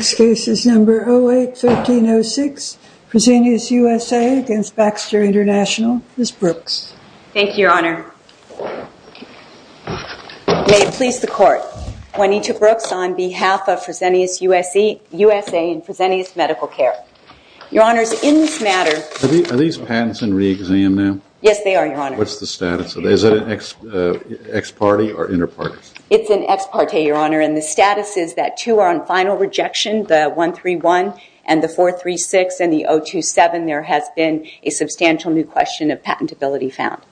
08-1306 Presenius USA v. Baxter Intl 08-1306 May it please the court, Juanita Brooks on behalf of Presenius USA and Presenius Medical Care. Your Honor, in this matter Are these patents in re-exam now? Yes, they are, Your Honor. What's the status? Is it an ex parte or inter parte? It's an ex parte, Your Honor, and the status is that two are on final rejection, the 131 and the 436 and the 027. There has been a substantial new question of patentability found.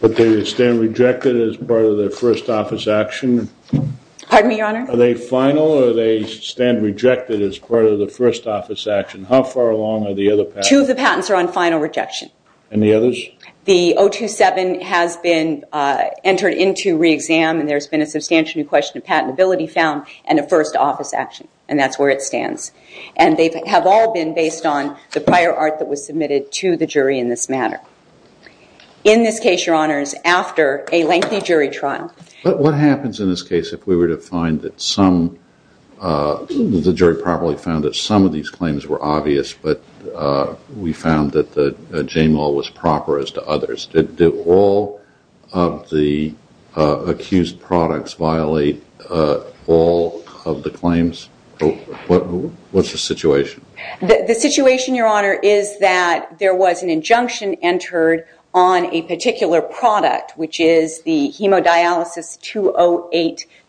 But they stand rejected as part of their first office action? Pardon me, Your Honor? Are they final or they stand rejected as part of the first office action? How far along are the other patents? Two of the patents are on final rejection. And the others? The 027 has been entered into re-exam and there's been a substantial new question of patentability found and a first office action. And that's where it stands. And they have all been based on the prior art that was submitted to the jury in this matter. In this case, Your Honor, it's after a lengthy jury trial. But what happens in this case if we were to find that some, the jury probably found that some of these claims were obvious, but we found that the JMO was proper as to others. Did all of the accused products violate all of the claims? What's the situation? The situation, Your Honor, is that there was an injunction entered on a particular product, which is the hemodialysis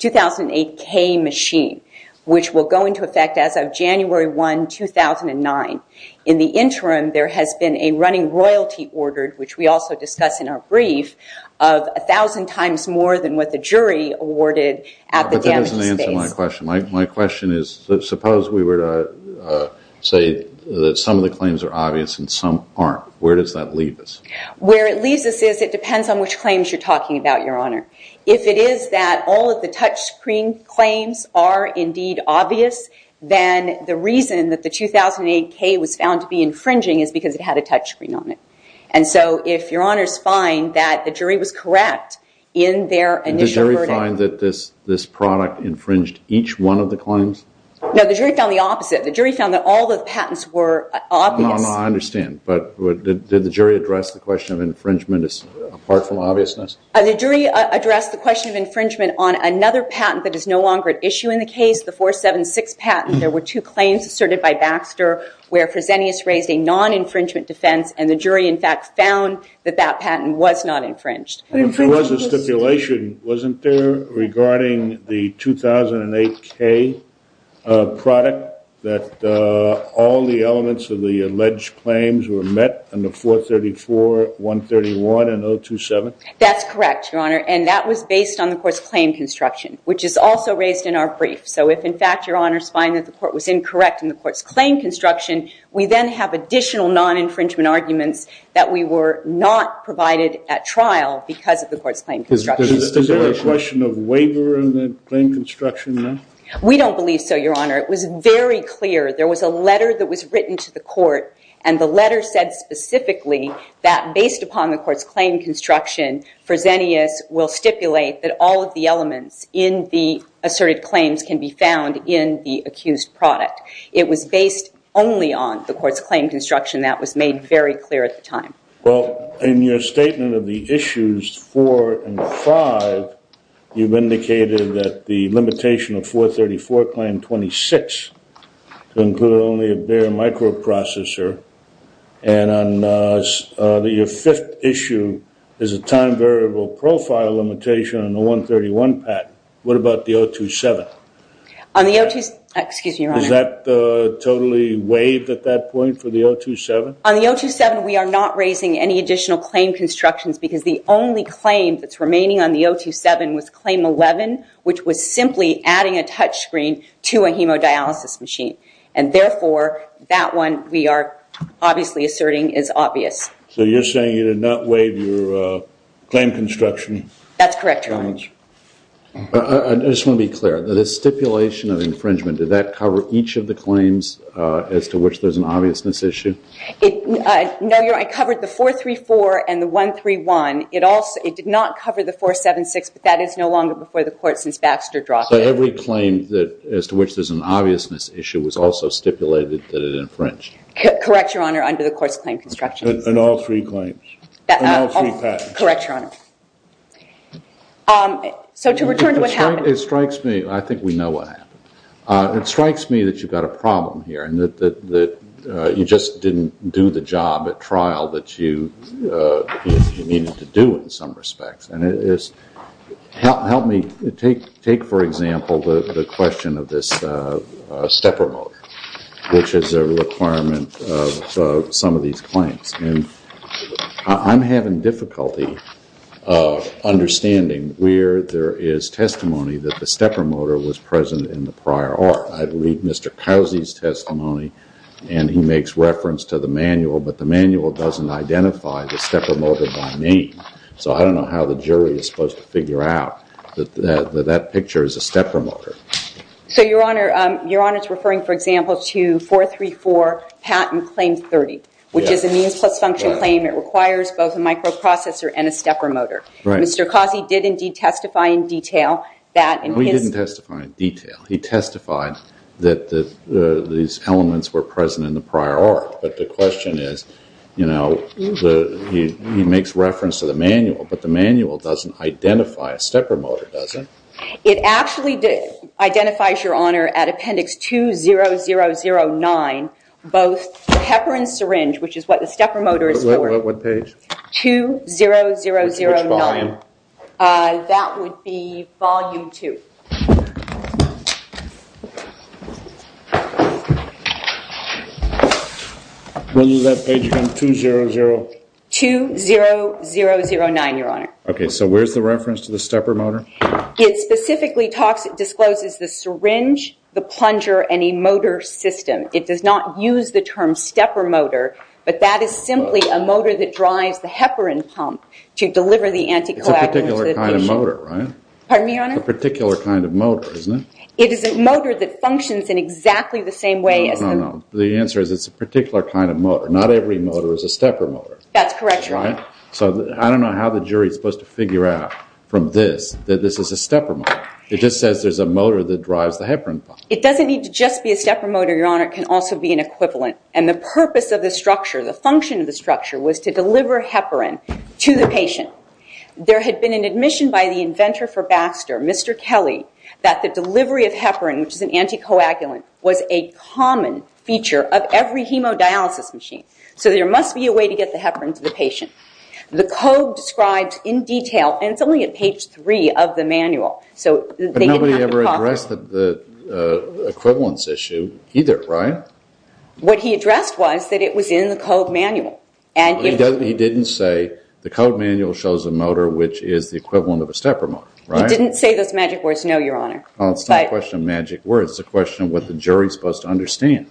2008K machine, which will go into effect as of January 1, 2009. In the interim, there has been a running royalty ordered, which we also discussed in our brief, of 1,000 times more than what the jury awarded at the damaged space. But that doesn't answer my question. My question is, suppose we were to say that some of the claims are obvious and some aren't. Where does that leave us? Where it leaves us is it depends on which claims you're talking about, Your Honor. If it is that all of the touchscreen claims are indeed obvious, then the reason that the 2008K was found to be infringing is because it had a touchscreen on it. And so if Your Honor's find that the jury was correct in their initial verdict. Did the jury find that this product infringed each one of the claims? No, the jury found the opposite. The jury found that all the patents were obvious. No, no, I understand. But did the jury address the question of infringement as apart from obviousness? The jury addressed the question of infringement on another patent that is no longer at issue in the case, the 476 patent. There were two claims asserted by Baxter where Fresenius raised a non-infringement defense, and the jury, in fact, found that that patent was not infringed. There was a stipulation, wasn't there, regarding the 2008K product that all the elements of the alleged claims were met on the 434, 131, and 027? That's correct, Your Honor, and that was based on the court's claim construction, which is also raised in our brief. So if, in fact, Your Honor's find that the court was incorrect in the court's claim construction, we then have additional non-infringement arguments that we were not provided at trial because of the court's claim construction. Is there a question of waiver in the claim construction, then? We don't believe so, Your Honor. It was very clear. There was a letter that was written to the court, and the letter said specifically that based upon the court's claim construction, Fresenius will stipulate that all of the elements in the asserted claims can be found in the accused product. It was based only on the court's claim construction. That was made very clear at the time. Well, in your statement of the issues 4 and 5, you've indicated that the limitation of 434, Claim 26, to include only a bare microprocessor, and that your fifth issue is a time variable profile limitation on the 131 patent. What about the 027? On the 027, excuse me, Your Honor. Is that totally waived at that point for the 027? On the 027, we are not raising any additional claim constructions because the only claim that's remaining on the 027 was Claim 11, which was simply adding a touchscreen to a hemodialysis machine. And therefore, that one we are obviously asserting is obvious. So you're saying you did not waive your claim construction? That's correct, Your Honor. I just want to be clear. The stipulation of infringement, did that cover each of the claims as to which there's an obviousness issue? No, Your Honor. I covered the 434 and the 131. It did not cover the 476, but that is no longer before the court since Baxter dropped it. So every claim as to which there's an obviousness issue was also stipulated that it infringed? Correct, Your Honor, under the course of claim construction. And all three claims? And all three patents? Correct, Your Honor. So to return to what happened. It strikes me. I think we know what happened. It strikes me that you've got a problem here and that you just didn't do the job at trial that you needed to do in some respects. And help me take, for example, the question of this stepper motor, which is a requirement of some of these claims. I'm having difficulty understanding where there is testimony that the stepper motor was present in the prior art. I believe Mr. Cousy's testimony, and he makes reference to the manual, but the manual doesn't identify the stepper motor by name. So I don't know how the jury is supposed to figure out that that picture is a stepper motor. So, Your Honor, it's referring, for example, to 434 patent claim 30, which is a means plus function claim that requires both a microprocessor and a stepper motor. Right. Mr. Cousy did indeed testify in detail that in his... No, he didn't testify in detail. He testified that these elements were present in the prior art. But the question is, you know, he makes reference to the manual, but the manual doesn't identify a stepper motor, does it? It actually identifies, Your Honor, at appendix 20009, both pepper and syringe, which is what the stepper motor is for. What page? 20009. Which volume? That would be volume 2. When did that page become 200... 20009, Your Honor. Okay, so where's the reference to the stepper motor? It specifically discloses the syringe, the plunger, and a motor system. It does not use the term stepper motor, but that is simply a motor that drives the heparin pump to deliver the anticoagulants... It's a particular kind of motor, right? Pardon me, Your Honor? A particular kind of motor, isn't it? It is a motor that functions in exactly the same way as... No, no, no. The answer is it's a particular kind of motor. Not every motor is a stepper motor. That's correct, Your Honor. I don't know how the jury is supposed to figure out from this that this is a stepper motor. It just says there's a motor that drives the heparin pump. It doesn't need to just be a stepper motor, Your Honor. It can also be an equivalent, and the purpose of the structure, the function of the structure, was to deliver heparin to the patient. There had been an admission by the inventor for Baxter, Mr. Kelly, that the delivery of heparin, which is an anticoagulant, was a common feature of every hemodialysis machine. So there must be a way to get the heparin to the patient. The code describes in detail, and it's only at page 3 of the manual, so... But nobody ever addressed the equivalence issue either, right? What he addressed was that it was in the code manual. He didn't say the code manual shows a motor which is the equivalent of a stepper motor, right? He didn't say those magic words, no, Your Honor. Well, it's not a question of magic words. It's a question of what the jury's supposed to understand.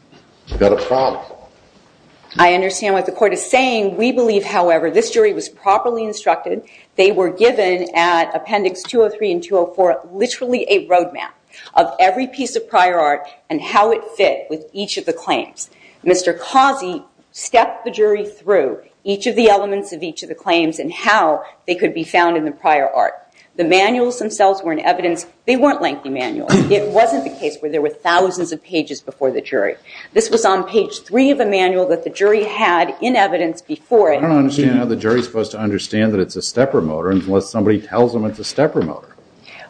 You've got a problem. I understand what the court is saying. We believe, however, this jury was properly instructed. They were given, at Appendix 203 and 204, literally a roadmap of every piece of prior art and how it fit with each of the claims. Mr. Causey stepped the jury through each of the elements of each of the claims and how they could be found in the prior art. The manuals themselves were in evidence. They weren't lengthy manuals. It wasn't the case where there were thousands of pages before the jury. This was on page 3 of the manual that the jury had in evidence before it. I don't understand how the jury's supposed to understand that it's a stepper motor unless somebody tells them it's a stepper motor.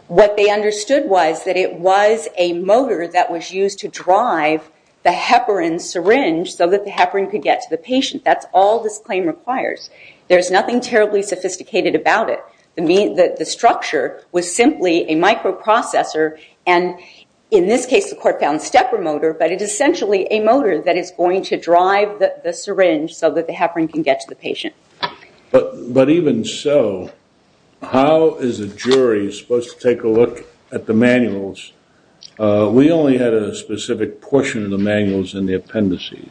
What they understood was that it was a motor that was used to drive the heparin syringe so that the heparin could get to the patient. That's all this claim requires. There's nothing terribly sophisticated about it. The structure was simply a microprocessor. And in this case, the court found stepper motor. But it is essentially a motor that is going to drive the syringe so that the heparin can get to the patient. But even so, how is a jury supposed to take a look at the manuals? We only had a specific portion of the manuals in the appendices.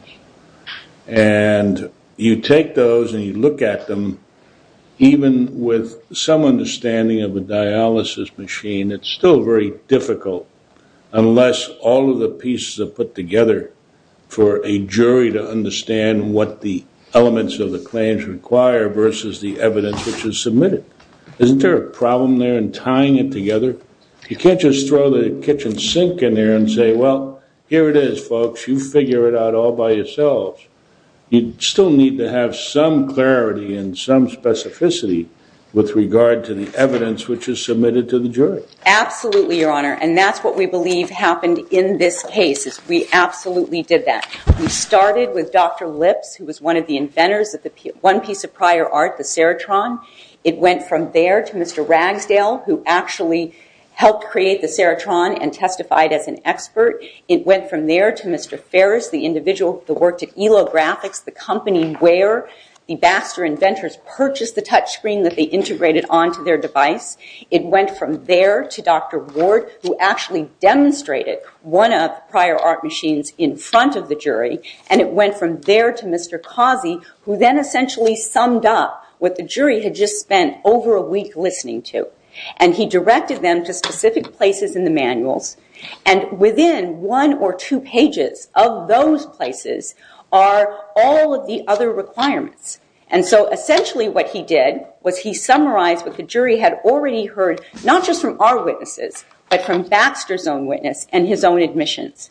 And you take those and you look at them, even with some understanding of a dialysis machine, it's still very difficult unless all of the pieces are put together for a jury to understand what the elements of the claims require versus the evidence which is submitted. Isn't there a problem there in tying it together? You can't just throw the kitchen sink in there and say, well, here it is, folks, you figure it out all by yourselves. You still need to have some clarity and some specificity with regard to the evidence which is submitted to the jury. Absolutely, Your Honor. And that's what we believe happened in this case. We absolutely did that. We started with Dr. Lips, who was one of the inventors of one piece of prior art, the serotron. It went from there to Mr. Ragsdale, who actually helped create the serotron and testified as an expert. It went from there to Mr. Ferris, the individual that worked at Elo Graphics, the company where the Baxter inventors purchased the touchscreen that they integrated onto their device. It went from there to Dr. Ward, who actually demonstrated one of the prior art machines in front of the jury. And it went from there to Mr. Causey, who then essentially summed up what the jury had just spent over a week listening to. And he directed them to specific places in the manuals. And within one or two pages of those places are all of the other requirements. And so essentially what he did was he summarized what the jury had already heard, not just from our witnesses, but from Baxter's own witness and his own admissions.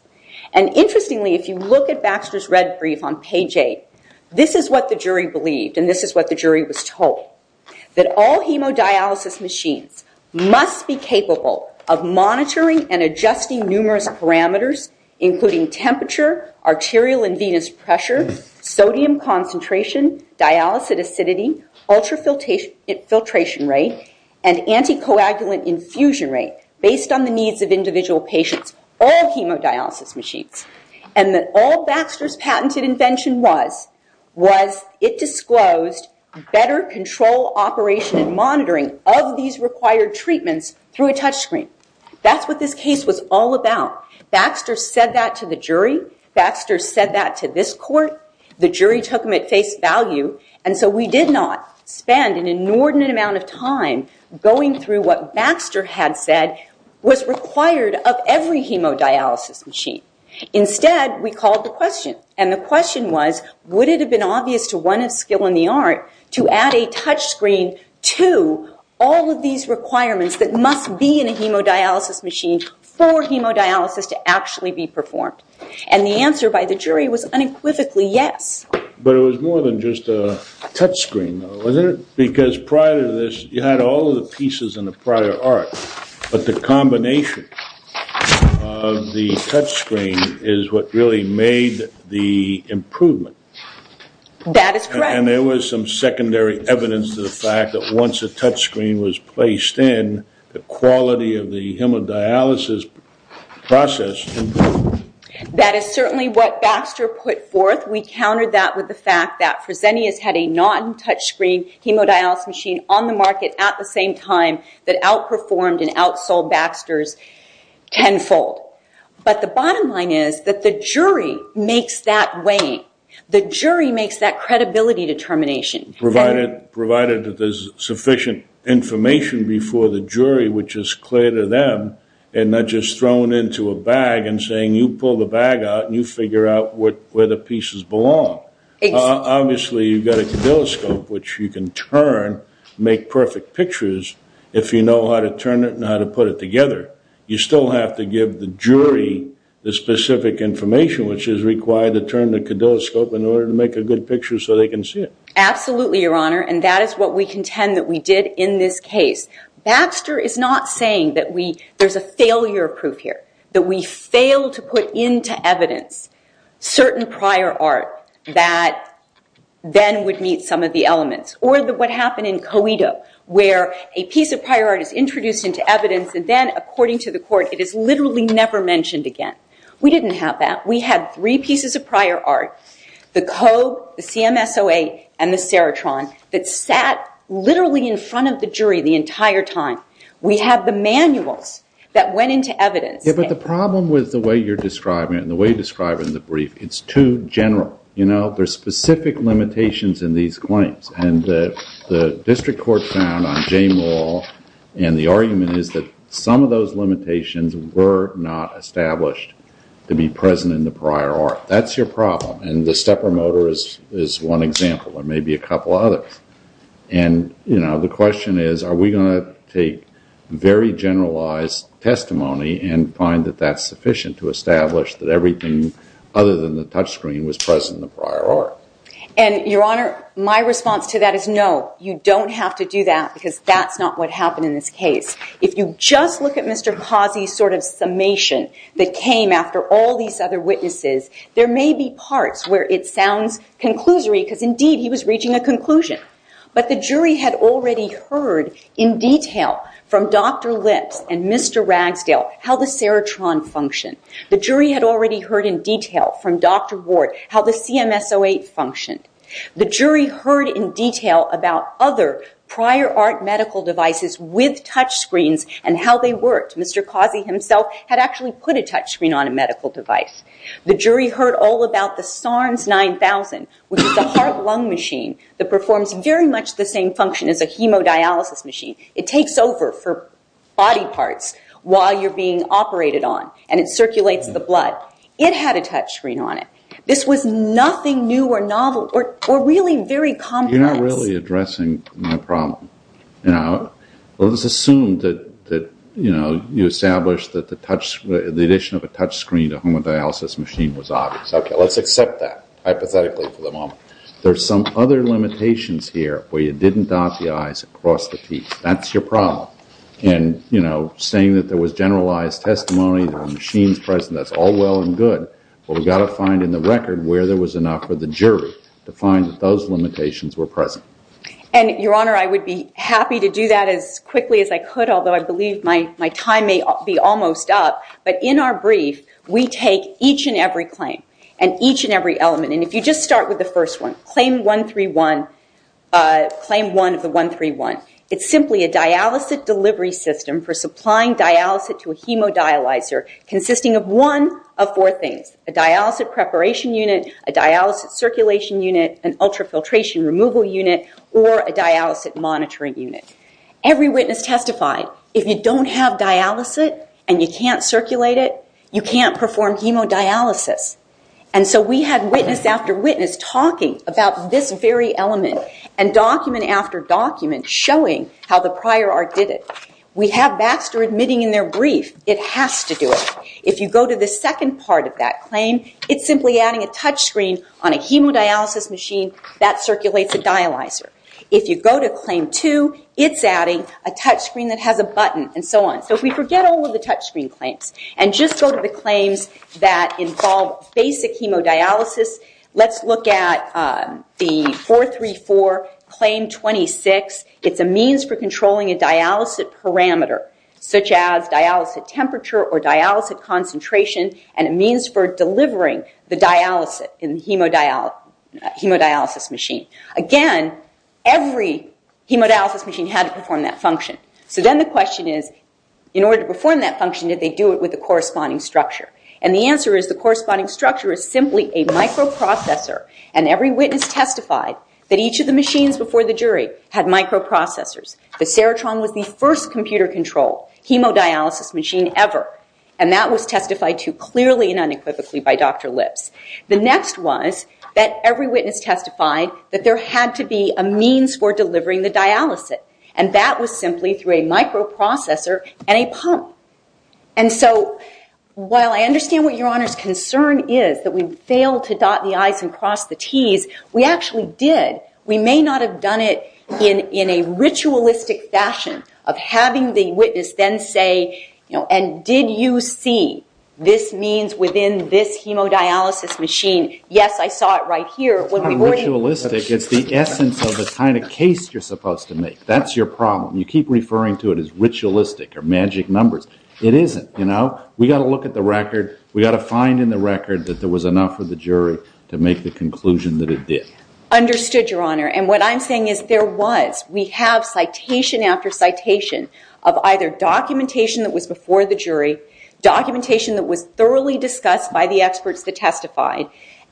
And interestingly, if you look at Baxter's red brief on page 8, this is what the jury believed and this is what the jury was told. That all hemodialysis machines must be capable of monitoring and adjusting numerous parameters, including temperature, arterial and venous pressure, sodium concentration, dialysate acidity, ultrafiltration rate, and anticoagulant infusion rate, based on the needs of individual patients. All hemodialysis machines. And that all Baxter's patented invention was, was it disclosed better control, operation, and monitoring of these required treatments through a touchscreen. That's what this case was all about. Baxter said that to the jury. Baxter said that to this court. The jury took him at face value. And so we did not spend an inordinate amount of time going through what Baxter had said was required of every hemodialysis machine. Instead, we called the question. And the question was, would it have been obvious to one of skill in the art to add a touchscreen to all of these requirements that must be in a hemodialysis machine for hemodialysis to actually be performed? And the answer by the jury was unequivocally yes. But it was more than just a touchscreen, wasn't it? Because prior to this, you had all of the pieces in the prior art, but the combination of the touchscreen is what really made the improvement. That is correct. And there was some secondary evidence to the fact that once a touchscreen was placed in, the quality of the hemodialysis process improved. That is certainly what Baxter put forth. We countered that with the fact that Fresenius had a non-touchscreen hemodialysis machine on the market at the same time that outperformed and outsold Baxter's tenfold. But the bottom line is that the jury makes that weight. The jury makes that credibility determination. Provided that there's sufficient information before the jury, which is clear to them, and not just thrown into a bag and saying, you pull the bag out and you figure out where the pieces belong. Obviously, you've got a caudilloscope, which you can turn, make perfect pictures, if you know how to turn it and how to put it together. You still have to give the jury the specific information, which is required to turn the caudilloscope in order to make a good picture so they can see it. Absolutely, Your Honor. And that is what we contend that we did in this case. Baxter is not saying that there's a failure proof here, that we failed to put into evidence certain prior art that then would meet some of the elements. Or what happened in Coedo, where a piece of prior art is introduced into evidence and then, according to the court, it is literally never mentioned again. We didn't have that. We had three pieces of prior art. The code, the CMSOA, and the serotron that sat literally in front of the jury the entire time. We have the manuals that went into evidence. Yeah, but the problem with the way you're describing it and the way you describe it in the brief, it's too general. You know, there's specific limitations in these claims. And the district court found on J. Moore, and the argument is that some of those limitations were not established to be present in the prior art. That's your problem. And the stepper motor is one example. There may be a couple others. And, you know, the question is, are we going to take very generalized testimony and find that that's sufficient to establish that everything other than the touch screen was present in the prior art? And, Your Honor, my response to that is no. You don't have to do that because that's not what happened in this case. If you just look at Mr. Pazzi's sort of summation that came after all these other witnesses, there may be parts where it sounds conclusory because, indeed, he was reaching a conclusion. But the jury had already heard in detail from Dr. Lips and Mr. Ragsdale how the serotron functioned. The jury had already heard in detail from Dr. Ward how the CMSOA functioned. The jury heard in detail about other prior art medical devices with touch screens and how they worked. Mr. Pazzi himself had actually put a touch screen on a medical device. The jury heard all about the SARMS 9000, which is a heart-lung machine that performs very much the same function as a hemodialysis machine. It takes over for body parts while you're being operated on, and it circulates the blood. It had a touch screen on it. This was nothing new or novel or really very complex. You're not really addressing my problem. Let's assume that you established that the addition of a touch screen to a hemodialysis machine was obvious. Okay, let's accept that hypothetically for the moment. There are some other limitations here where you didn't dot the I's and cross the T's. That's your problem. Saying that there was generalized testimony, there were machines present, that's all well and good, but we've got to find in the record where there was enough for the jury to find that those limitations were present. Your Honor, I would be happy to do that as quickly as I could, although I believe my time may be almost up. But in our brief, we take each and every claim and each and every element. If you just start with the first one, Claim 131, Claim 1 of the 131, it's simply a dialysate delivery system for supplying dialysate to a hemodialyzer consisting of one of four things, a dialysate preparation unit, a dialysate circulation unit, an ultrafiltration removal unit, or a dialysate monitoring unit. Every witness testified, if you don't have dialysate and you can't circulate it, you can't perform hemodialysis. And so we had witness after witness talking about this very element and document after document showing how the prior art did it. We have Baxter admitting in their brief, it has to do it. If you go to the second part of that claim, it's simply adding a touchscreen on a hemodialysis machine that circulates a dialyzer. If you go to Claim 2, it's adding a touchscreen that has a button and so on. So if we forget all of the touchscreen claims and just go to the claims that involve basic hemodialysis, let's look at the 434 Claim 26. It's a means for controlling a dialysate parameter such as dialysate temperature or dialysate concentration and a means for delivering the dialysate in the hemodialysis machine. Again, every hemodialysis machine had to perform that function. So then the question is, in order to perform that function, did they do it with the corresponding structure? And the answer is the corresponding structure is simply a microprocessor. And every witness testified that each of the machines before the jury had microprocessors. The Serotron was the first computer-controlled hemodialysis machine ever. And that was testified to clearly and unequivocally by Dr. Lipps. The next was that every witness testified that there had to be a means for delivering the dialysate. And that was simply through a microprocessor and a pump. And so while I understand what Your Honor's concern is that we failed to dot the I's and cross the T's, we actually did. We may not have done it in a ritualistic fashion of having the witness then say, you know, and did you see this means within this hemodialysis machine? Yes, I saw it right here. It's not ritualistic. It's the essence of the kind of case you're supposed to make. That's your problem. You keep referring to it as ritualistic or magic numbers. It isn't. We've got to look at the record. We've got to find in the record that there was enough for the jury to make the conclusion that it did. Understood, Your Honor. And what I'm saying is there was. We have citation after citation of either documentation that was before the jury, documentation that was thoroughly discussed by the experts that testified,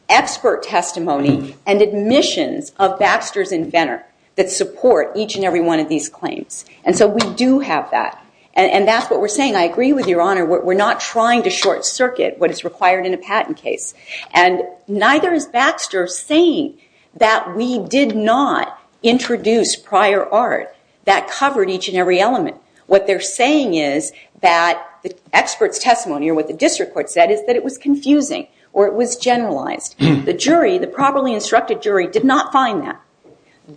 expert testimony and admissions of Baxter's inventor that support each and every one of these claims. And so we do have that. And that's what we're saying. I agree with Your Honor. We're not trying to short circuit what is required in a patent case. And neither is Baxter saying that we did not introduce prior art that covered each and every element. What they're saying is that the expert's testimony or what the district court said is that it was confusing or it was generalized. The jury, the properly instructed jury, did not find that.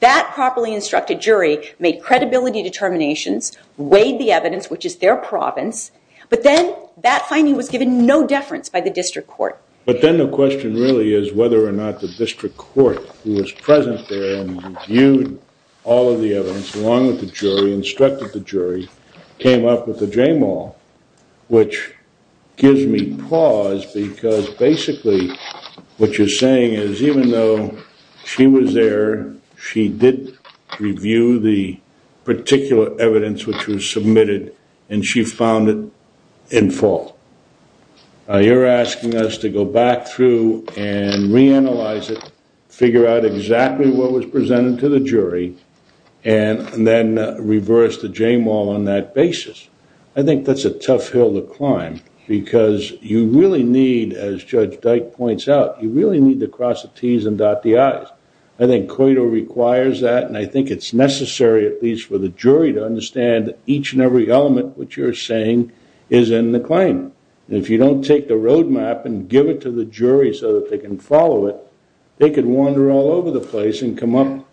That properly instructed jury made credibility determinations, weighed the evidence, which is their province. But then that finding was given no deference by the district court. But then the question really is whether or not the district court, who was present there and reviewed all of the evidence, along with the jury, instructed the jury, came up with a JMAL, which gives me pause because basically what you're saying is even though she was there, she did review the particular evidence which was submitted and she found it in fault. You're asking us to go back through and reanalyze it, figure out exactly what was presented to the jury. And then reverse the JMAL on that basis. I think that's a tough hill to climb because you really need, as Judge Dyke points out, you really need to cross the T's and dot the I's. I think COITO requires that and I think it's necessary, at least for the jury, to understand each and every element which you're saying is in the claim. And if you don't take the roadmap and give it to the jury so that they can follow it, they could wander all over the place and come up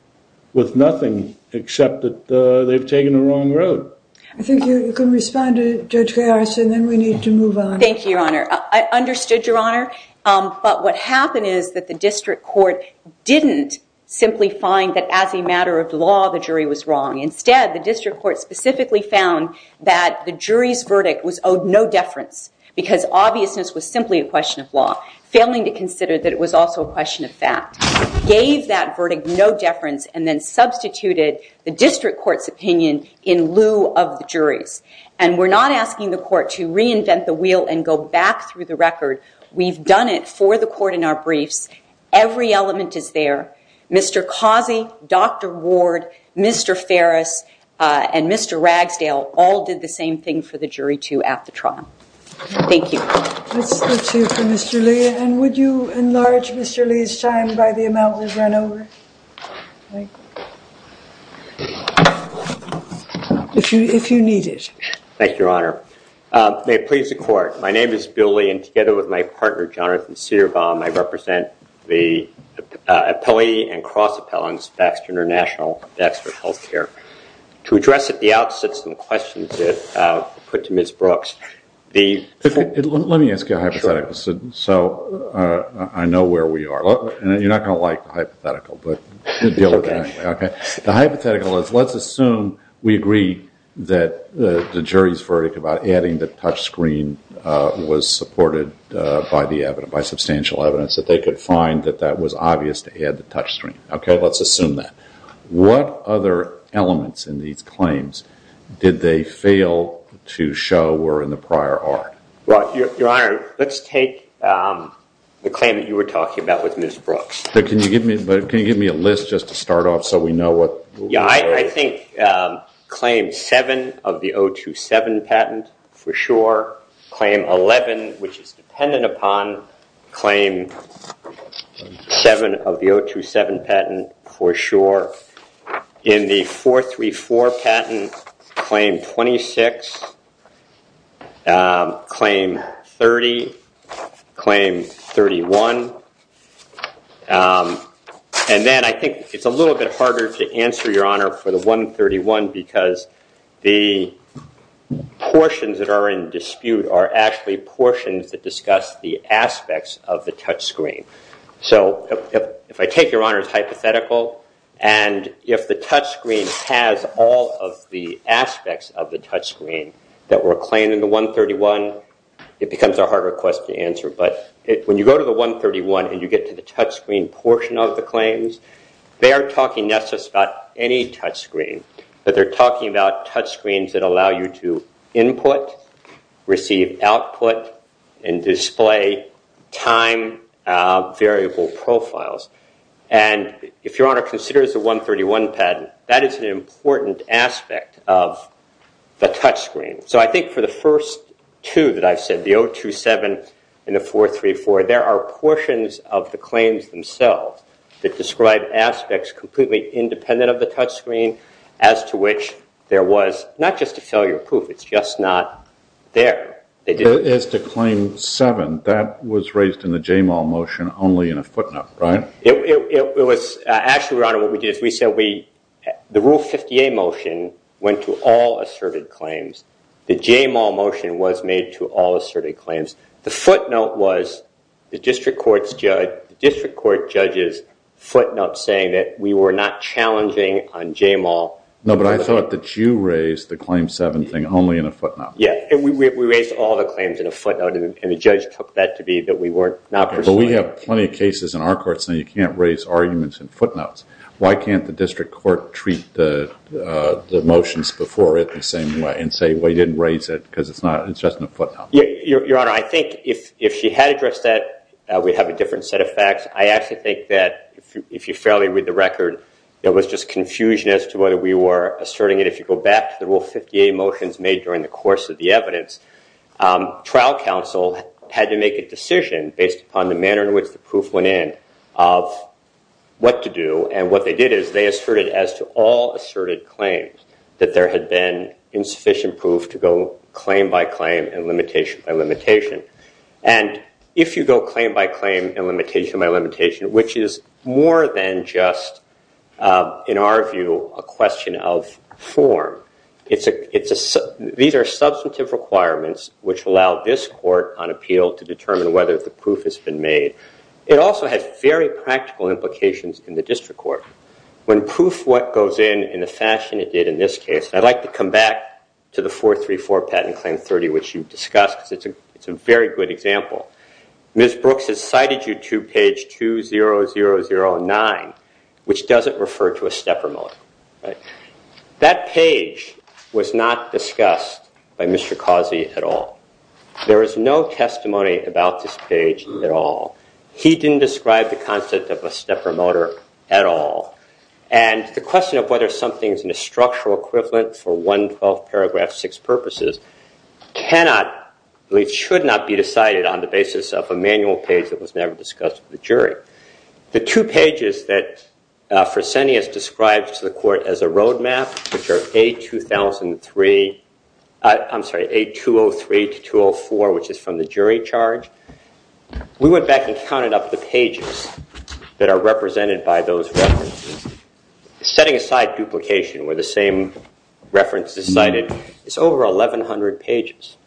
with nothing except that they've taken the wrong road. I think you can respond to Judge Garrison and then we need to move on. Thank you, Your Honor. I understood, Your Honor. But what happened is that the district court didn't simply find that as a matter of law the jury was wrong. Instead, the district court specifically found that the jury's verdict was owed no deference because obviousness was simply a question of law, failing to consider that it was also a question of fact. Gave that verdict no deference and then substituted the district court's opinion in lieu of the jury's. And we're not asking the court to reinvent the wheel and go back through the record. We've done it for the court in our briefs. Every element is there. Mr. Cossie, Dr. Ward, Mr. Ferris, and Mr. Ragsdale all did the same thing for the jury too at the trial. Thank you. That's it for Mr. Lee. And would you enlarge Mr. Lee's time by the amount we've run over? If you need it. Thank you, Your Honor. May it please the court. My name is Bill Lee, and together with my partner, Jonathan Cedarbaum, I represent the appellee and cross appellants, Baxter International and Baxter Health Care. To address at the outset some questions put to Ms. Brooks, the- Let me ask you a hypothetical so I know where we are. You're not going to like the hypothetical, but we'll deal with it anyway. The hypothetical is let's assume we agree that the jury's verdict about adding the touch screen was supported by substantial evidence that they could find that that was obvious to add the touch screen. Let's assume that. What other elements in these claims did they fail to show were in the prior art? Your Honor, let's take the claim that you were talking about with Ms. Brooks. Can you give me a list just to start off so we know what- Yeah, I think claim seven of the 027 patent, for sure. Claim 11, which is dependent upon claim seven of the 027 patent, for sure. In the 434 patent, claim 26, claim 30, claim 31. Then I think it's a little bit harder to answer, Your Honor, for the 131 because the portions that are in dispute are actually portions that discuss the aspects of the touch screen. If I take Your Honor's hypothetical and if the touch screen has all of the aspects of the touch screen that were claimed in the 131, it becomes a harder question to answer. When you go to the 131 and you get to the touch screen portion of the claims, they are talking not just about any touch screen, but they're talking about touch screens that allow you to input, receive output, and display time variable profiles. If Your Honor considers the 131 patent, that is an important aspect of the touch screen. I think for the first two that I've said, the 027 and the 434, there are portions of the claims themselves that describe aspects completely independent of the touch screen, as to which there was not just a failure proof, it's just not there. As to claim seven, that was raised in the JAMAL motion only in a footnote, right? Actually, Your Honor, what we did is we said the Rule 50A motion went to all asserted claims. The JAMAL motion was made to all asserted claims. The footnote was the district court judge's footnote saying that we were not challenging on JAMAL. No, but I thought that you raised the claim seven thing only in a footnote. Yeah, and we raised all the claims in a footnote, and the judge took that to be that we were not pursuing. But we have plenty of cases in our courts saying you can't raise arguments in footnotes. Why can't the district court treat the motions before it the same way and say, well, you didn't raise it because it's just in a footnote? Your Honor, I think if she had addressed that, we'd have a different set of facts. I actually think that if you fairly read the record, there was just confusion as to whether we were asserting it. If you go back to the Rule 50A motions made during the course of the evidence, trial counsel had to make a decision based upon the manner in which the proof went in of what to do. And what they did is they asserted as to all asserted claims that there had been insufficient proof to go claim by claim and limitation by limitation. And if you go claim by claim and limitation by limitation, which is more than just, in our view, a question of form, these are substantive requirements which allow this court on appeal to determine whether the proof has been made. It also has very practical implications in the district court. When proof goes in in the fashion it did in this case, I'd like to come back to the 434 Patent Claim 30, which you've discussed. It's a very good example. Ms. Brooks has cited you to page 20009, which doesn't refer to a stepper motor. That page was not discussed by Mr. Causey at all. There is no testimony about this page at all. He didn't describe the concept of a stepper motor at all. And the question of whether something is in a structural equivalent for 112 paragraph 6 purposes cannot, should not be decided on the basis of a manual page that was never discussed with the jury. The two pages that Fresenius described to the court as a roadmap, which are A2003, I'm sorry, A203 to 204, which is from the jury charge, we went back and counted up the pages that are represented by those references. Setting aside duplication where the same reference is cited, it's over 1100 pages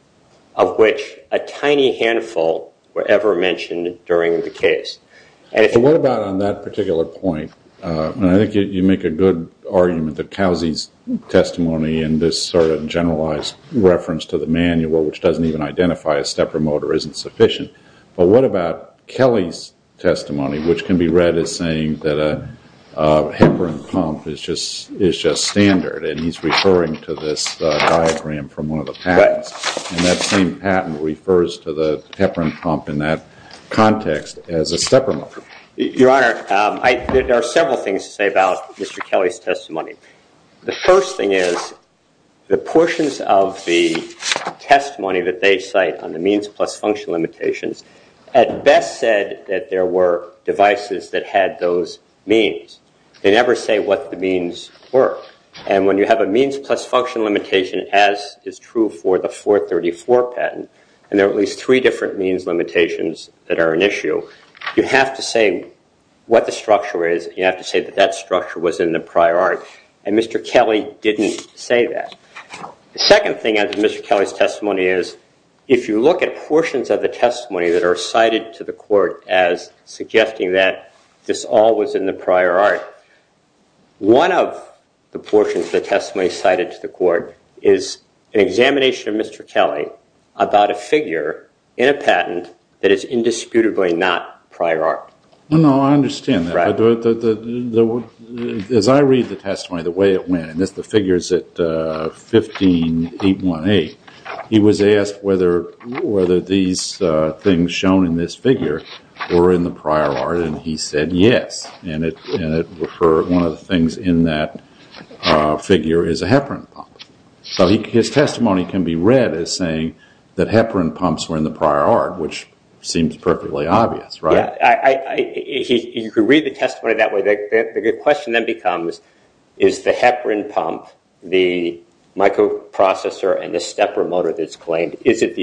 of which a tiny handful were ever mentioned during the case. And what about on that particular point? I think you make a good argument that Causey's testimony and this sort of generalized reference to the manual, which doesn't even identify a stepper motor, isn't sufficient. But what about Kelly's testimony, which can be read as saying that a heparin pump is just standard, and he's referring to this diagram from one of the patents. And that same patent refers to the heparin pump in that context as a stepper motor. Your Honor, there are several things to say about Mr. Kelly's testimony. The first thing is the portions of the testimony that they cite on the means plus function limitations at best said that there were devices that had those means. They never say what the means were. And when you have a means plus function limitation, as is true for the 434 patent, and there are at least three different means limitations that are an issue, you have to say what the structure is. You have to say that that structure was in the prior art. And Mr. Kelly didn't say that. The second thing as Mr. Kelly's testimony is, if you look at portions of the testimony that are cited to the court as suggesting that this all was in the prior art, one of the portions of the testimony cited to the court is an examination of Mr. Kelly about a figure in a patent that is indisputably not prior art. No, I understand that. As I read the testimony, the way it went, and that's the figures at 15818, he was asked whether these things shown in this figure were in the prior art, and he said yes. And it referred, one of the things in that figure is a heparin pump. So his testimony can be read as saying that heparin pumps were in the prior art, which seems perfectly obvious, right? You could read the testimony that way. The question then becomes, is the heparin pump, the microprocessor, and the stepper motor that's claimed, is it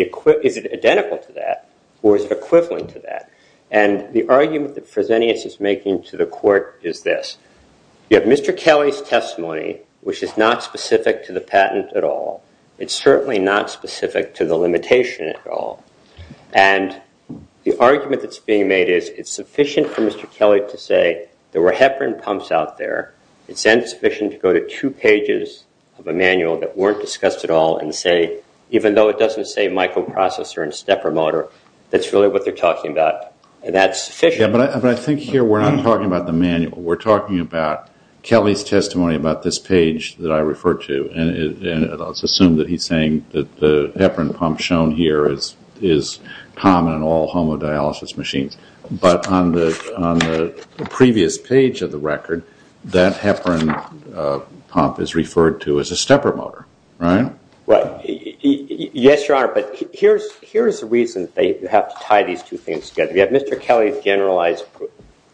identical to that or is it equivalent to that? And the argument that Fresenius is making to the court is this. You have Mr. Kelly's testimony, which is not specific to the patent at all. It's certainly not specific to the limitation at all. And the argument that's being made is it's sufficient for Mr. Kelly to say there were heparin pumps out there. It's insufficient to go to two pages of a manual that weren't discussed at all and say, even though it doesn't say microprocessor and stepper motor, that's really what they're talking about, and that's sufficient. Yeah, but I think here we're not talking about the manual. We're talking about Kelly's testimony about this page that I referred to, and let's assume that he's saying that the heparin pump shown here is common in all homodialysis machines. But on the previous page of the record, that heparin pump is referred to as a stepper motor, right? Right. Yes, Your Honor, but here's the reason they have to tie these two things together. You have Mr. Kelly's generalized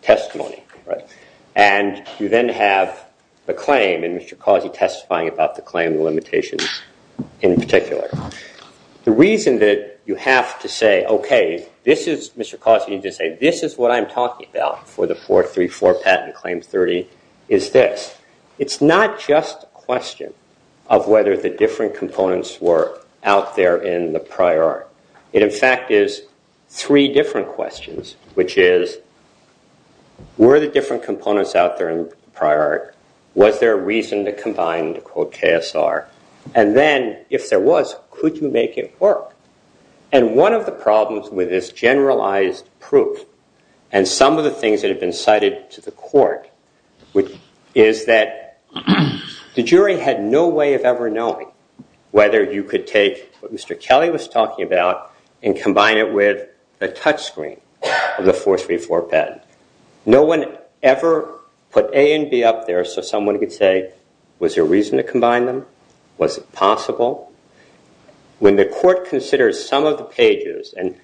testimony, right? And you then have the claim, and Mr. Causey testifying about the claim and limitations in particular. The reason that you have to say, okay, this is, Mr. Causey, you need to say, this is what I'm talking about for the 434 patent claim 30 is this. It's not just a question of whether the different components were out there in the prior art. It, in fact, is three different questions, which is, were the different components out there in prior art? Was there a reason to combine, to quote KSR? And then, if there was, could you make it work? And one of the problems with this generalized proof, and some of the things that have been cited to the court, is that the jury had no way of ever knowing whether you could take what Mr. Kelly was talking about and combine it with a touch screen of the 434 patent. No one ever put A and B up there so someone could say, was there a reason to combine them? Was it possible? When the court considers some of the pages, and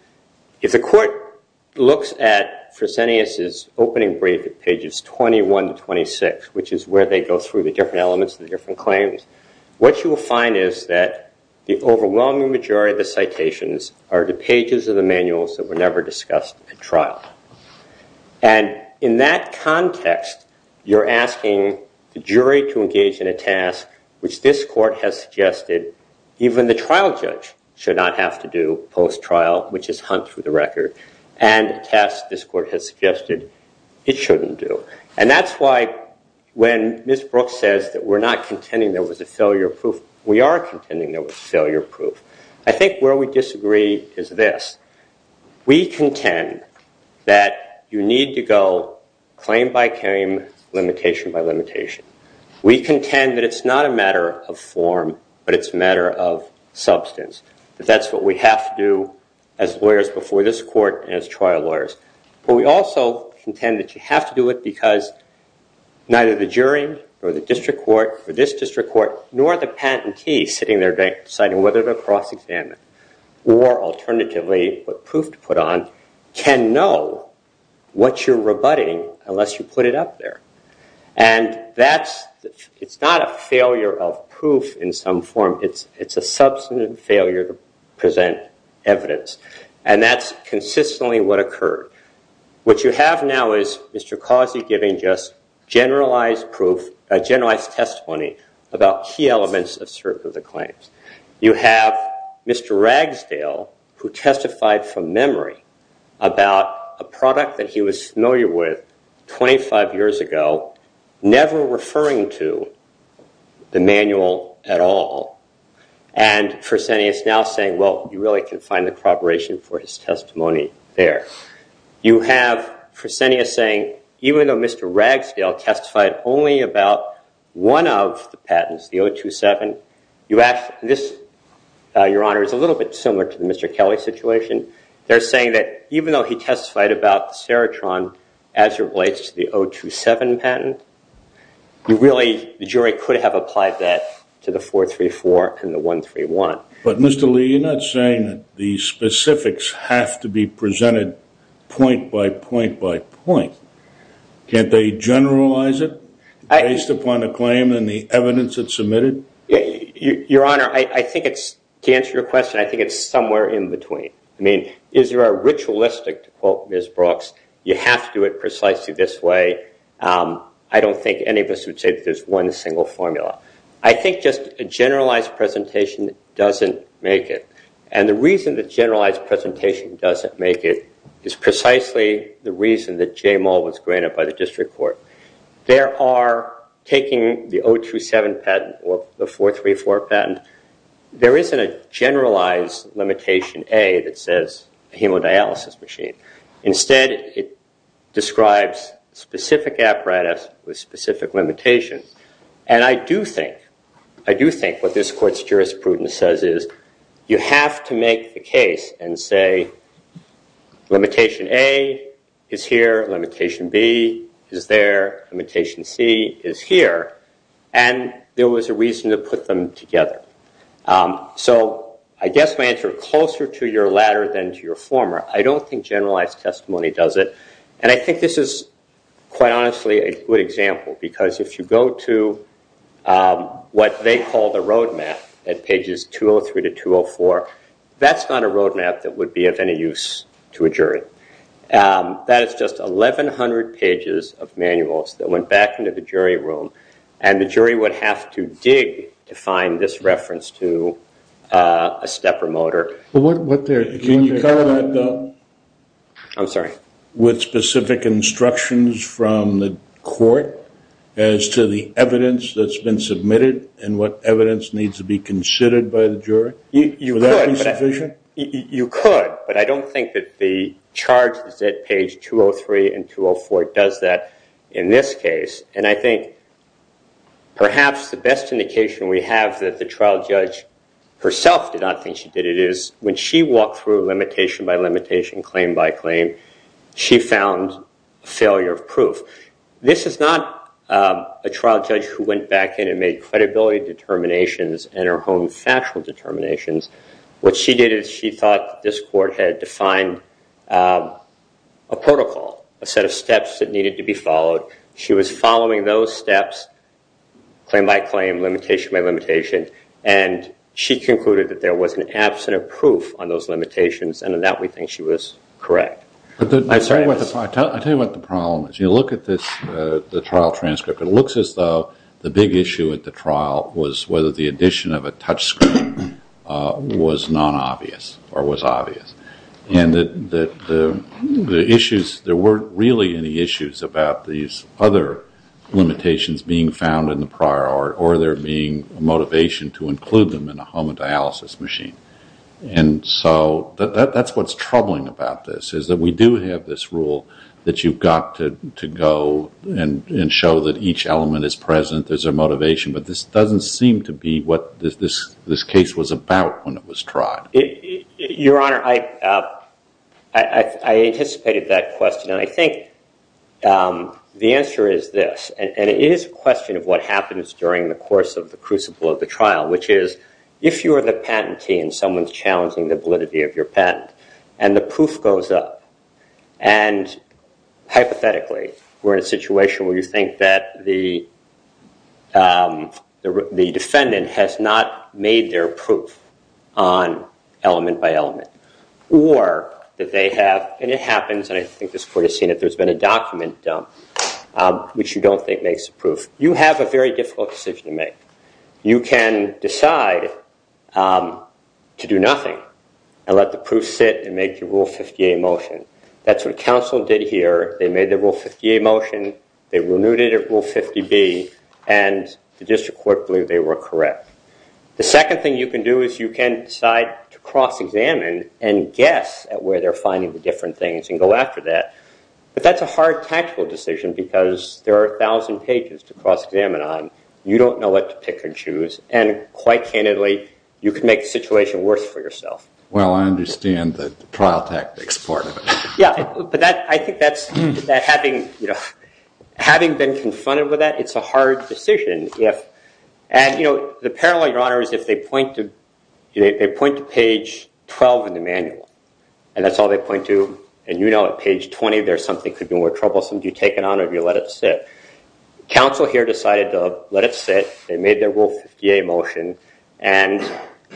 if the court looks at Fresenius' opening brief at pages 21 to 26, which is where they go through the different elements of the different claims, what you will find is that the overwhelming majority of the citations are the pages of the manuals that were never discussed at trial. And in that context, you're asking the jury to engage in a task which this court has suggested even the trial judge should not have to do post-trial, which is hunt through the record, and a task this court has suggested it shouldn't do. And that's why when Ms. Brooks says that we're not contending there was a failure proof, we are contending there was a failure proof. I think where we disagree is this. We contend that you need to go claim by claim, limitation by limitation. We contend that it's not a matter of form, but it's a matter of substance, that that's what we have to do as lawyers before this court and as trial lawyers. But we also contend that you have to do it because neither the jury or the district court or this district court nor the patentee sitting there deciding whether to cross-examine or alternatively what proof to put on can know what you're rebutting unless you put it up there. And it's not a failure of proof in some form. It's a substantive failure to present evidence. And that's consistently what occurred. What you have now is Mr. Causey giving just generalized proof, a generalized testimony about key elements of certain of the claims. You have Mr. Ragsdale who testified from memory about a product that he was familiar with 25 years ago, never referring to the manual at all. And Fresenius now saying, well, you really can find the corroboration for his testimony there. You have Fresenius saying, even though Mr. Ragsdale testified only about one of the patents, the 027, this, Your Honor, is a little bit similar to the Mr. Kelly situation. They're saying that even though he testified about the Serotron as it relates to the 027 patent, you really, the jury could have applied that to the 434 and the 131. But Mr. Lee, you're not saying that the specifics have to be presented point by point by point. Can't they generalize it based upon the claim and the evidence that's submitted? Your Honor, I think it's, to answer your question, I think it's somewhere in between. I mean, is there a ritualistic, to quote Ms. Brooks, you have to do it precisely this way. I don't think any of us would say that there's one single formula. I think just a generalized presentation doesn't make it. And the reason that generalized presentation doesn't make it is precisely the reason that J. Mull was granted by the district court. There are, taking the 027 patent or the 434 patent, there isn't a generalized limitation A that says hemodialysis machine. Instead, it describes specific apparatus with specific limitations. And I do think, I do think what this court's jurisprudence says is you have to make the case and say, limitation A is here, limitation B is there, limitation C is here. And there was a reason to put them together. So I guess my answer is closer to your latter than to your former. I don't think generalized testimony does it. And I think this is, quite honestly, a good example. Because if you go to what they call the roadmap at pages 203 to 204, that's not a roadmap that would be of any use to a jury. That is just 1,100 pages of manuals that went back into the jury room. And the jury would have to dig to find this reference to a stepper motor. Can you cover that up with specific instructions from the court as to the evidence that's been submitted and what evidence needs to be considered by the jury? Would that be sufficient? You could. But I don't think that the charge that's at page 203 and 204 does that in this case. And I think perhaps the best indication we have that the trial judge herself did not think she did it is, when she walked through limitation by limitation, claim by claim, she found failure of proof. This is not a trial judge who went back in and made credibility determinations and her own factual determinations. What she did is she thought this court had defined a protocol, a set of steps that needed to be followed. She was following those steps, claim by claim, limitation by limitation, and she concluded that there was an absence of proof on those limitations, and in that we think she was correct. I'll tell you what the problem is. You look at the trial transcript. It looks as though the big issue at the trial was whether the addition of a touch screen was non-obvious or was obvious. And that the issues, there weren't really any issues about these other limitations being found in the prior art or there being a motivation to include them in a homodialysis machine. And so that's what's troubling about this is that we do have this rule that you've got to go and show that each element is present, there's a motivation, but this doesn't seem to be what this case was about when it was tried. Your Honor, I anticipated that question, and I think the answer is this, and it is a question of what happens during the course of the crucible of the trial, which is if you are the patentee and someone's challenging the validity of your patent and the proof goes up, and hypothetically we're in a situation where you think that the defendant has not made their proof on element by element, or that they have, and it happens, and I think this court has seen it, there's been a document dumped which you don't think makes the proof. You have a very difficult decision to make. You can decide to do nothing and let the proof sit and make your Rule 58 motion. That's what counsel did here. They made their Rule 58 motion. They renewed it at Rule 50B, and the district court believed they were correct. The second thing you can do is you can decide to cross-examine and guess at where they're finding the different things and go after that, but that's a hard tactical decision because there are a thousand pages to cross-examine on. You don't know what to pick and choose, and quite candidly, you can make the situation worse for yourself. Well, I understand the trial tactics part of it. Yeah, but I think that having been confronted with that, it's a hard decision. The parallel, Your Honor, is if they point to page 12 in the manual, and that's all they point to, and you know at page 20 there's something that could be more troublesome, do you take it on or do you let it sit? Counsel here decided to let it sit. They made their Rule 58 motion, and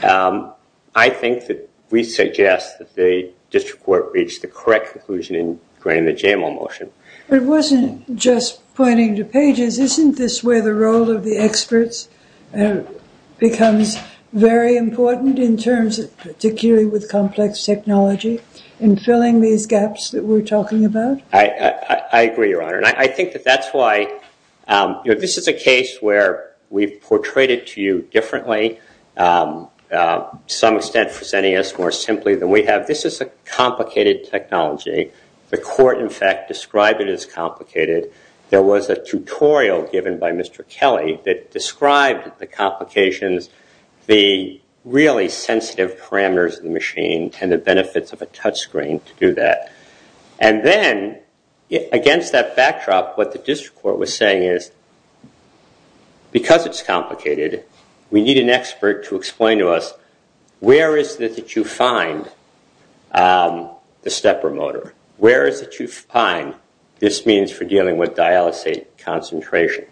I think that we suggest that the district court reach the correct conclusion in granting the JML motion. But it wasn't just pointing to pages. Isn't this where the role of the experts becomes very important in terms of particularly with complex technology and filling these gaps that we're talking about? I agree, Your Honor. I think that that's why this is a case where we've portrayed it to you differently, to some extent presenting us more simply than we have. This is a complicated technology. The court, in fact, described it as complicated. There was a tutorial given by Mr. Kelly that described the complications, the really sensitive parameters of the machine, and the benefits of a touchscreen to do that. And then against that backdrop, what the district court was saying is because it's complicated, we need an expert to explain to us where is it that you find the stepper motor? Where is it that you find this means for dealing with dialysate concentration?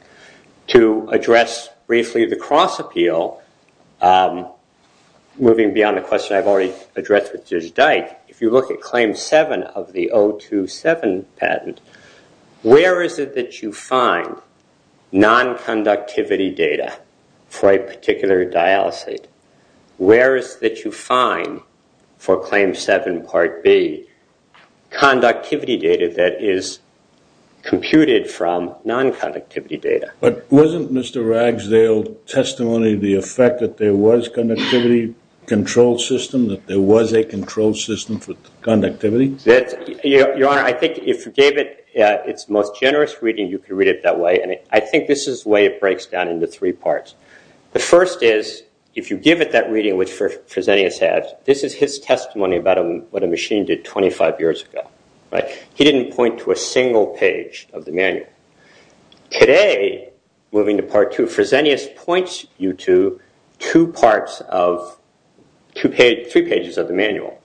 To address briefly the cross appeal, moving beyond the question I've already addressed with Judge Dyke, if you look at Claim 7 of the 027 patent, where is it that you find nonconductivity data for a particular dialysate? Where is it that you find, for Claim 7 Part B, conductivity data that is computed from nonconductivity data? But wasn't Mr. Ragsdale's testimony the effect that there was conductivity control system, that there was a control system for conductivity? Your Honor, I think if you gave it its most generous reading, you could read it that way. And I think this is the way it breaks down into three parts. The first is, if you give it that reading, which Fresenius has, this is his testimony about what a machine did 25 years ago. He didn't point to a single page of the manual. Today, moving to Part 2, Fresenius points you to two parts of three pages of the manual.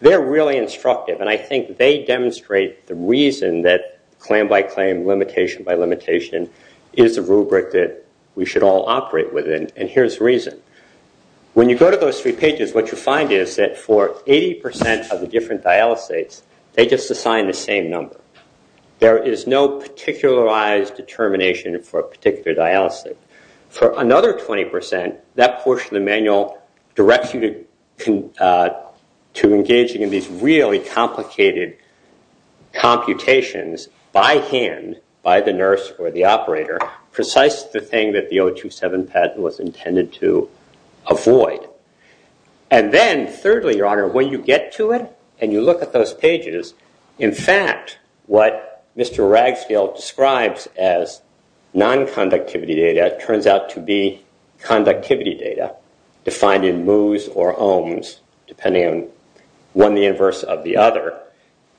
They're really instructive, and I think they demonstrate the reason that claim by claim, limitation by limitation, is the rubric that we should all operate within. And here's the reason. When you go to those three pages, what you find is that for 80% of the different dialysates, they just assign the same number. There is no particularized determination for a particular dialysate. For another 20%, that portion of the manual directs you to engaging in these really complicated computations by hand, by the nurse or the operator, precisely the thing that the 027 patent was intended to avoid. And then thirdly, Your Honor, when you get to it and you look at those pages, in fact, what Mr. Ragsdale describes as non-conductivity data turns out to be conductivity data, defined in moos or ohms, depending on one the inverse of the other.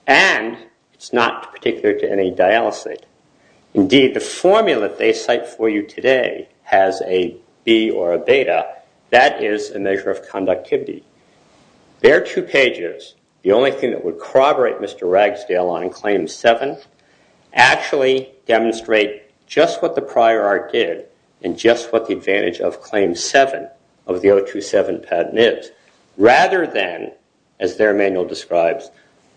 And it's not particular to any dialysate. Indeed, the formula they cite for you today has a B or a beta. That is a measure of conductivity. Their two pages, the only thing that would corroborate Mr. Ragsdale on Claim 7, actually demonstrate just what the prior art did and just what the advantage of Claim 7 of the 027 patent is. Rather than, as their manual describes,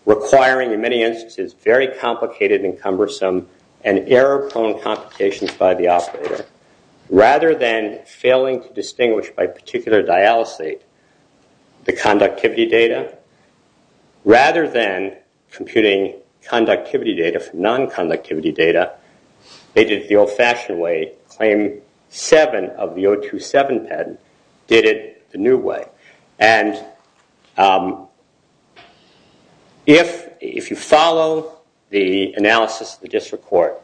requiring in many instances very complicated and cumbersome and error-prone computations by the operator, rather than failing to distinguish by particular dialysate the conductivity data, rather than computing conductivity data from non-conductivity data, they did it the old-fashioned way. Claim 7 of the 027 patent did it the new way. And if you follow the analysis of the district court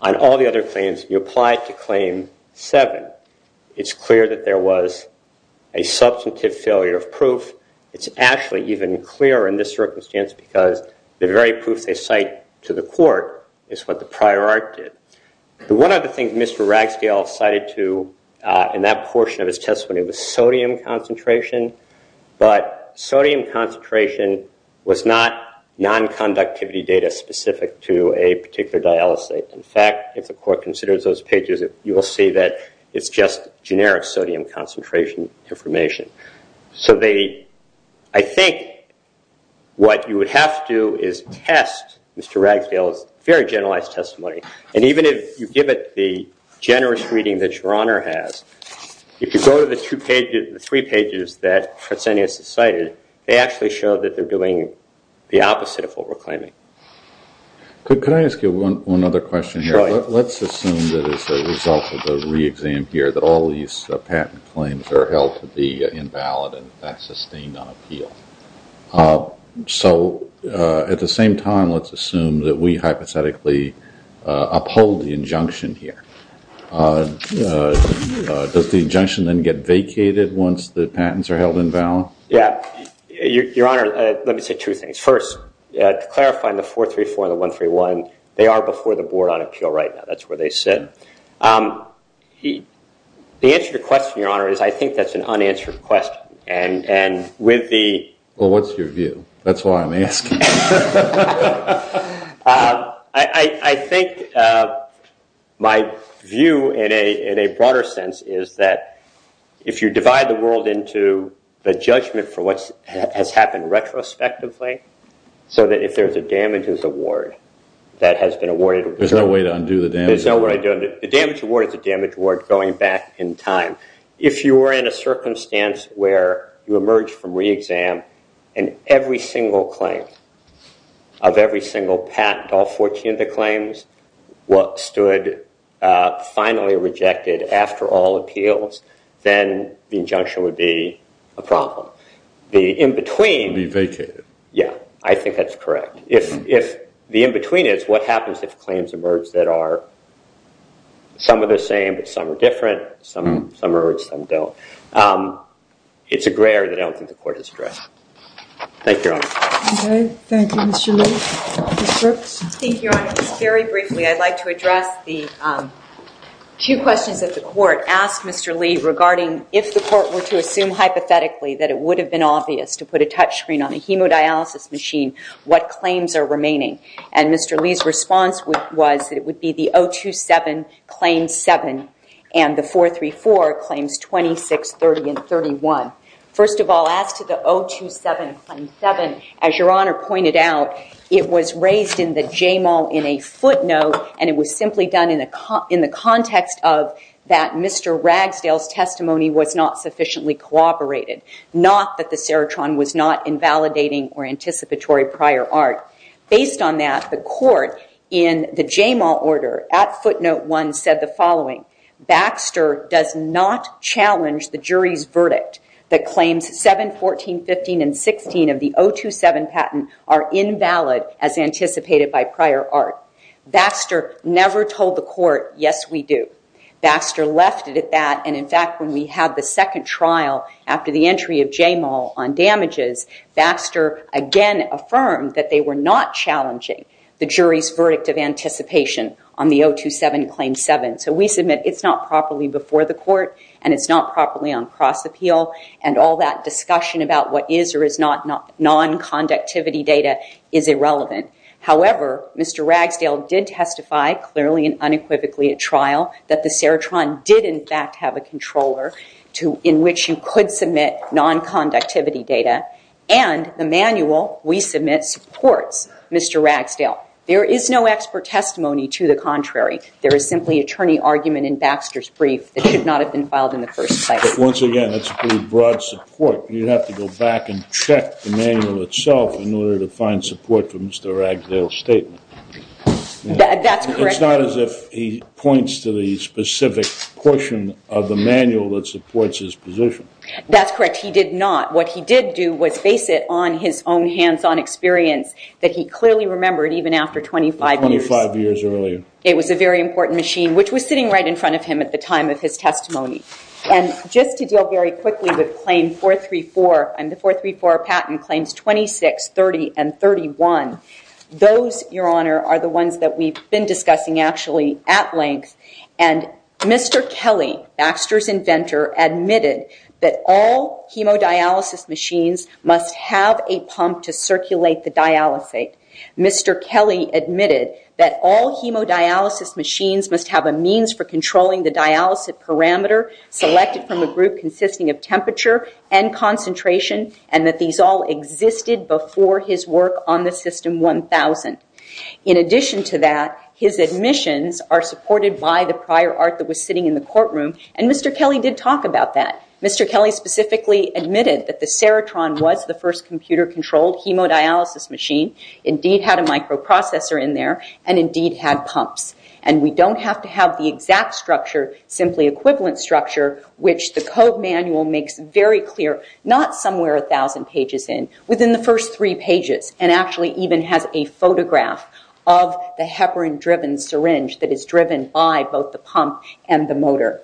on all the other claims, you apply it to Claim 7, it's clear that there was a substantive failure of proof. It's actually even clearer in this circumstance because the very proof they cite to the court is what the prior art did. One of the things Mr. Ragsdale cited in that portion of his testimony was sodium concentration, but sodium concentration was not non-conductivity data specific to a particular dialysate. In fact, if the court considers those pages, you will see that it's just generic sodium concentration information. So I think what you would have to do is test Mr. Ragsdale's very generalized testimony. And even if you give it the generous reading that Your Honor has, if you go to the three pages that Trotsenius has cited, they actually show that they're doing the opposite of what we're claiming. Could I ask you one other question here? Sure. Let's assume that as a result of the re-exam here that all these patent claims are held to be invalid and not sustained on appeal. So at the same time, let's assume that we hypothetically uphold the injunction here. Does the injunction then get vacated once the patents are held invalid? Yeah. Your Honor, let me say two things. First, to clarify, in the 434 and the 131, they are before the board on appeal right now. That's what they said. The answer to your question, Your Honor, is I think that's an unanswered question. Well, what's your view? That's why I'm asking. I think my view in a broader sense is that if you divide the world into the judgment for what has happened retrospectively, so that if there's a damages award that has been awarded- There's no way to undo the damage award. There's no way to undo it. The damage award is a damage award going back in time. If you were in a circumstance where you emerge from re-exam and every single claim of every single patent, all 14 of the claims stood finally rejected after all appeals, then the injunction would be a problem. The in-between- Would be vacated. Yeah. I think that's correct. If the in-between is, what happens if claims emerge that are- Some are the same, but some are different. Some emerge, some don't. It's a gray area that I don't think the court has addressed. Thank you, Your Honor. Thank you, Mr. Lee. Ms. Brooks? Thank you, Your Honor. Just very briefly, I'd like to address the two questions that the court asked Mr. Lee regarding if the court were to assume hypothetically that it would have been obvious to put a touchscreen on a hemodialysis machine what claims are remaining. And Mr. Lee's response was that it would be the 027 Claim 7 and the 434 Claims 26, 30, and 31. First of all, as to the 027 Claim 7, as Your Honor pointed out, it was raised in the JMAL in a footnote, and it was simply done in the context of that Mr. Ragsdale's testimony was not sufficiently cooperated, not that the serotron was not invalidating or anticipatory prior art. Based on that, the court in the JMAL order at footnote 1 said the following, Baxter does not challenge the jury's verdict that claims 7, 14, 15, and 16 of the 027 patent are invalid as anticipated by prior art. Baxter never told the court, yes, we do. Baxter left it at that, and in fact, when we had the second trial after the entry of JMAL on damages, Baxter again affirmed that they were not challenging the jury's verdict of anticipation on the 027 Claim 7. So we submit it's not properly before the court, and it's not properly on cross-appeal, and all that discussion about what is or is not non-conductivity data is irrelevant. However, Mr. Ragsdale did testify clearly and unequivocally at trial that the serotron did in fact have a controller in which you could submit non-conductivity data, and the manual we submit supports Mr. Ragsdale. There is no expert testimony to the contrary. There is simply attorney argument in Baxter's brief that should not have been filed in the first place. But once again, that's a pretty broad support. You'd have to go back and check the manual itself in order to find support for Mr. Ragsdale's statement. That's correct. It's not as if he points to the specific portion of the manual that supports his position. That's correct. He did not. What he did do was base it on his own hands-on experience that he clearly remembered even after 25 years. Twenty-five years earlier. It was a very important machine, which was sitting right in front of him at the time of his testimony. And just to deal very quickly with Claim 434, the 434 patent claims 26, 30, and 31. Those, Your Honor, are the ones that we've been discussing actually at length. And Mr. Kelly, Baxter's inventor, admitted that all hemodialysis machines must have a pump to circulate the dialysate. Mr. Kelly admitted that all hemodialysis machines must have a means for controlling the dialysate parameter selected from a group consisting of temperature and concentration, and that these all existed before his work on the System 1000. In addition to that, his admissions are supported by the prior art that was sitting in the courtroom, and Mr. Kelly did talk about that. Mr. Kelly specifically admitted that the Serotron was the first computer-controlled hemodialysis machine, indeed had a microprocessor in there, and indeed had pumps. And we don't have to have the exact structure, simply equivalent structure, which the code manual makes very clear, not somewhere 1,000 pages in, within the first three pages, and actually even has a photograph of the heparin-driven syringe that is driven by both the pump and the motor.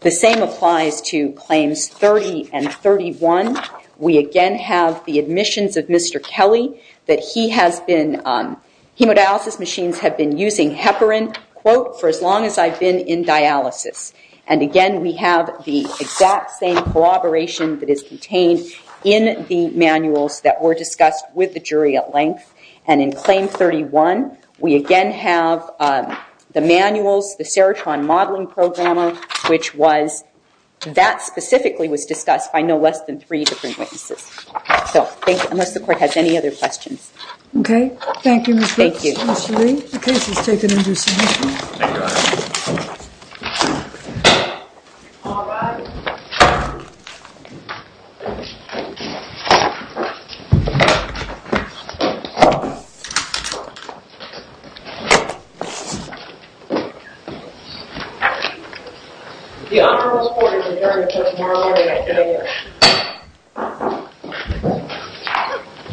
The same applies to Claims 30 and 31. We again have the admissions of Mr. Kelly, that he has been, hemodialysis machines have been using heparin, quote, for as long as I've been in dialysis. And again, we have the exact same corroboration that is contained in the manuals that were discussed with the jury at length. And in Claim 31, we again have the manuals, the Serotron modeling programmer, which was, that specifically was discussed by no less than three different witnesses. So, thank you, unless the court has any other questions. Okay, thank you, Ms. Bates. Thank you. Ms. Lee, the case is taken into submission. Thank you. All rise. The honorable court is adjourned until tomorrow morning at 10 a.m.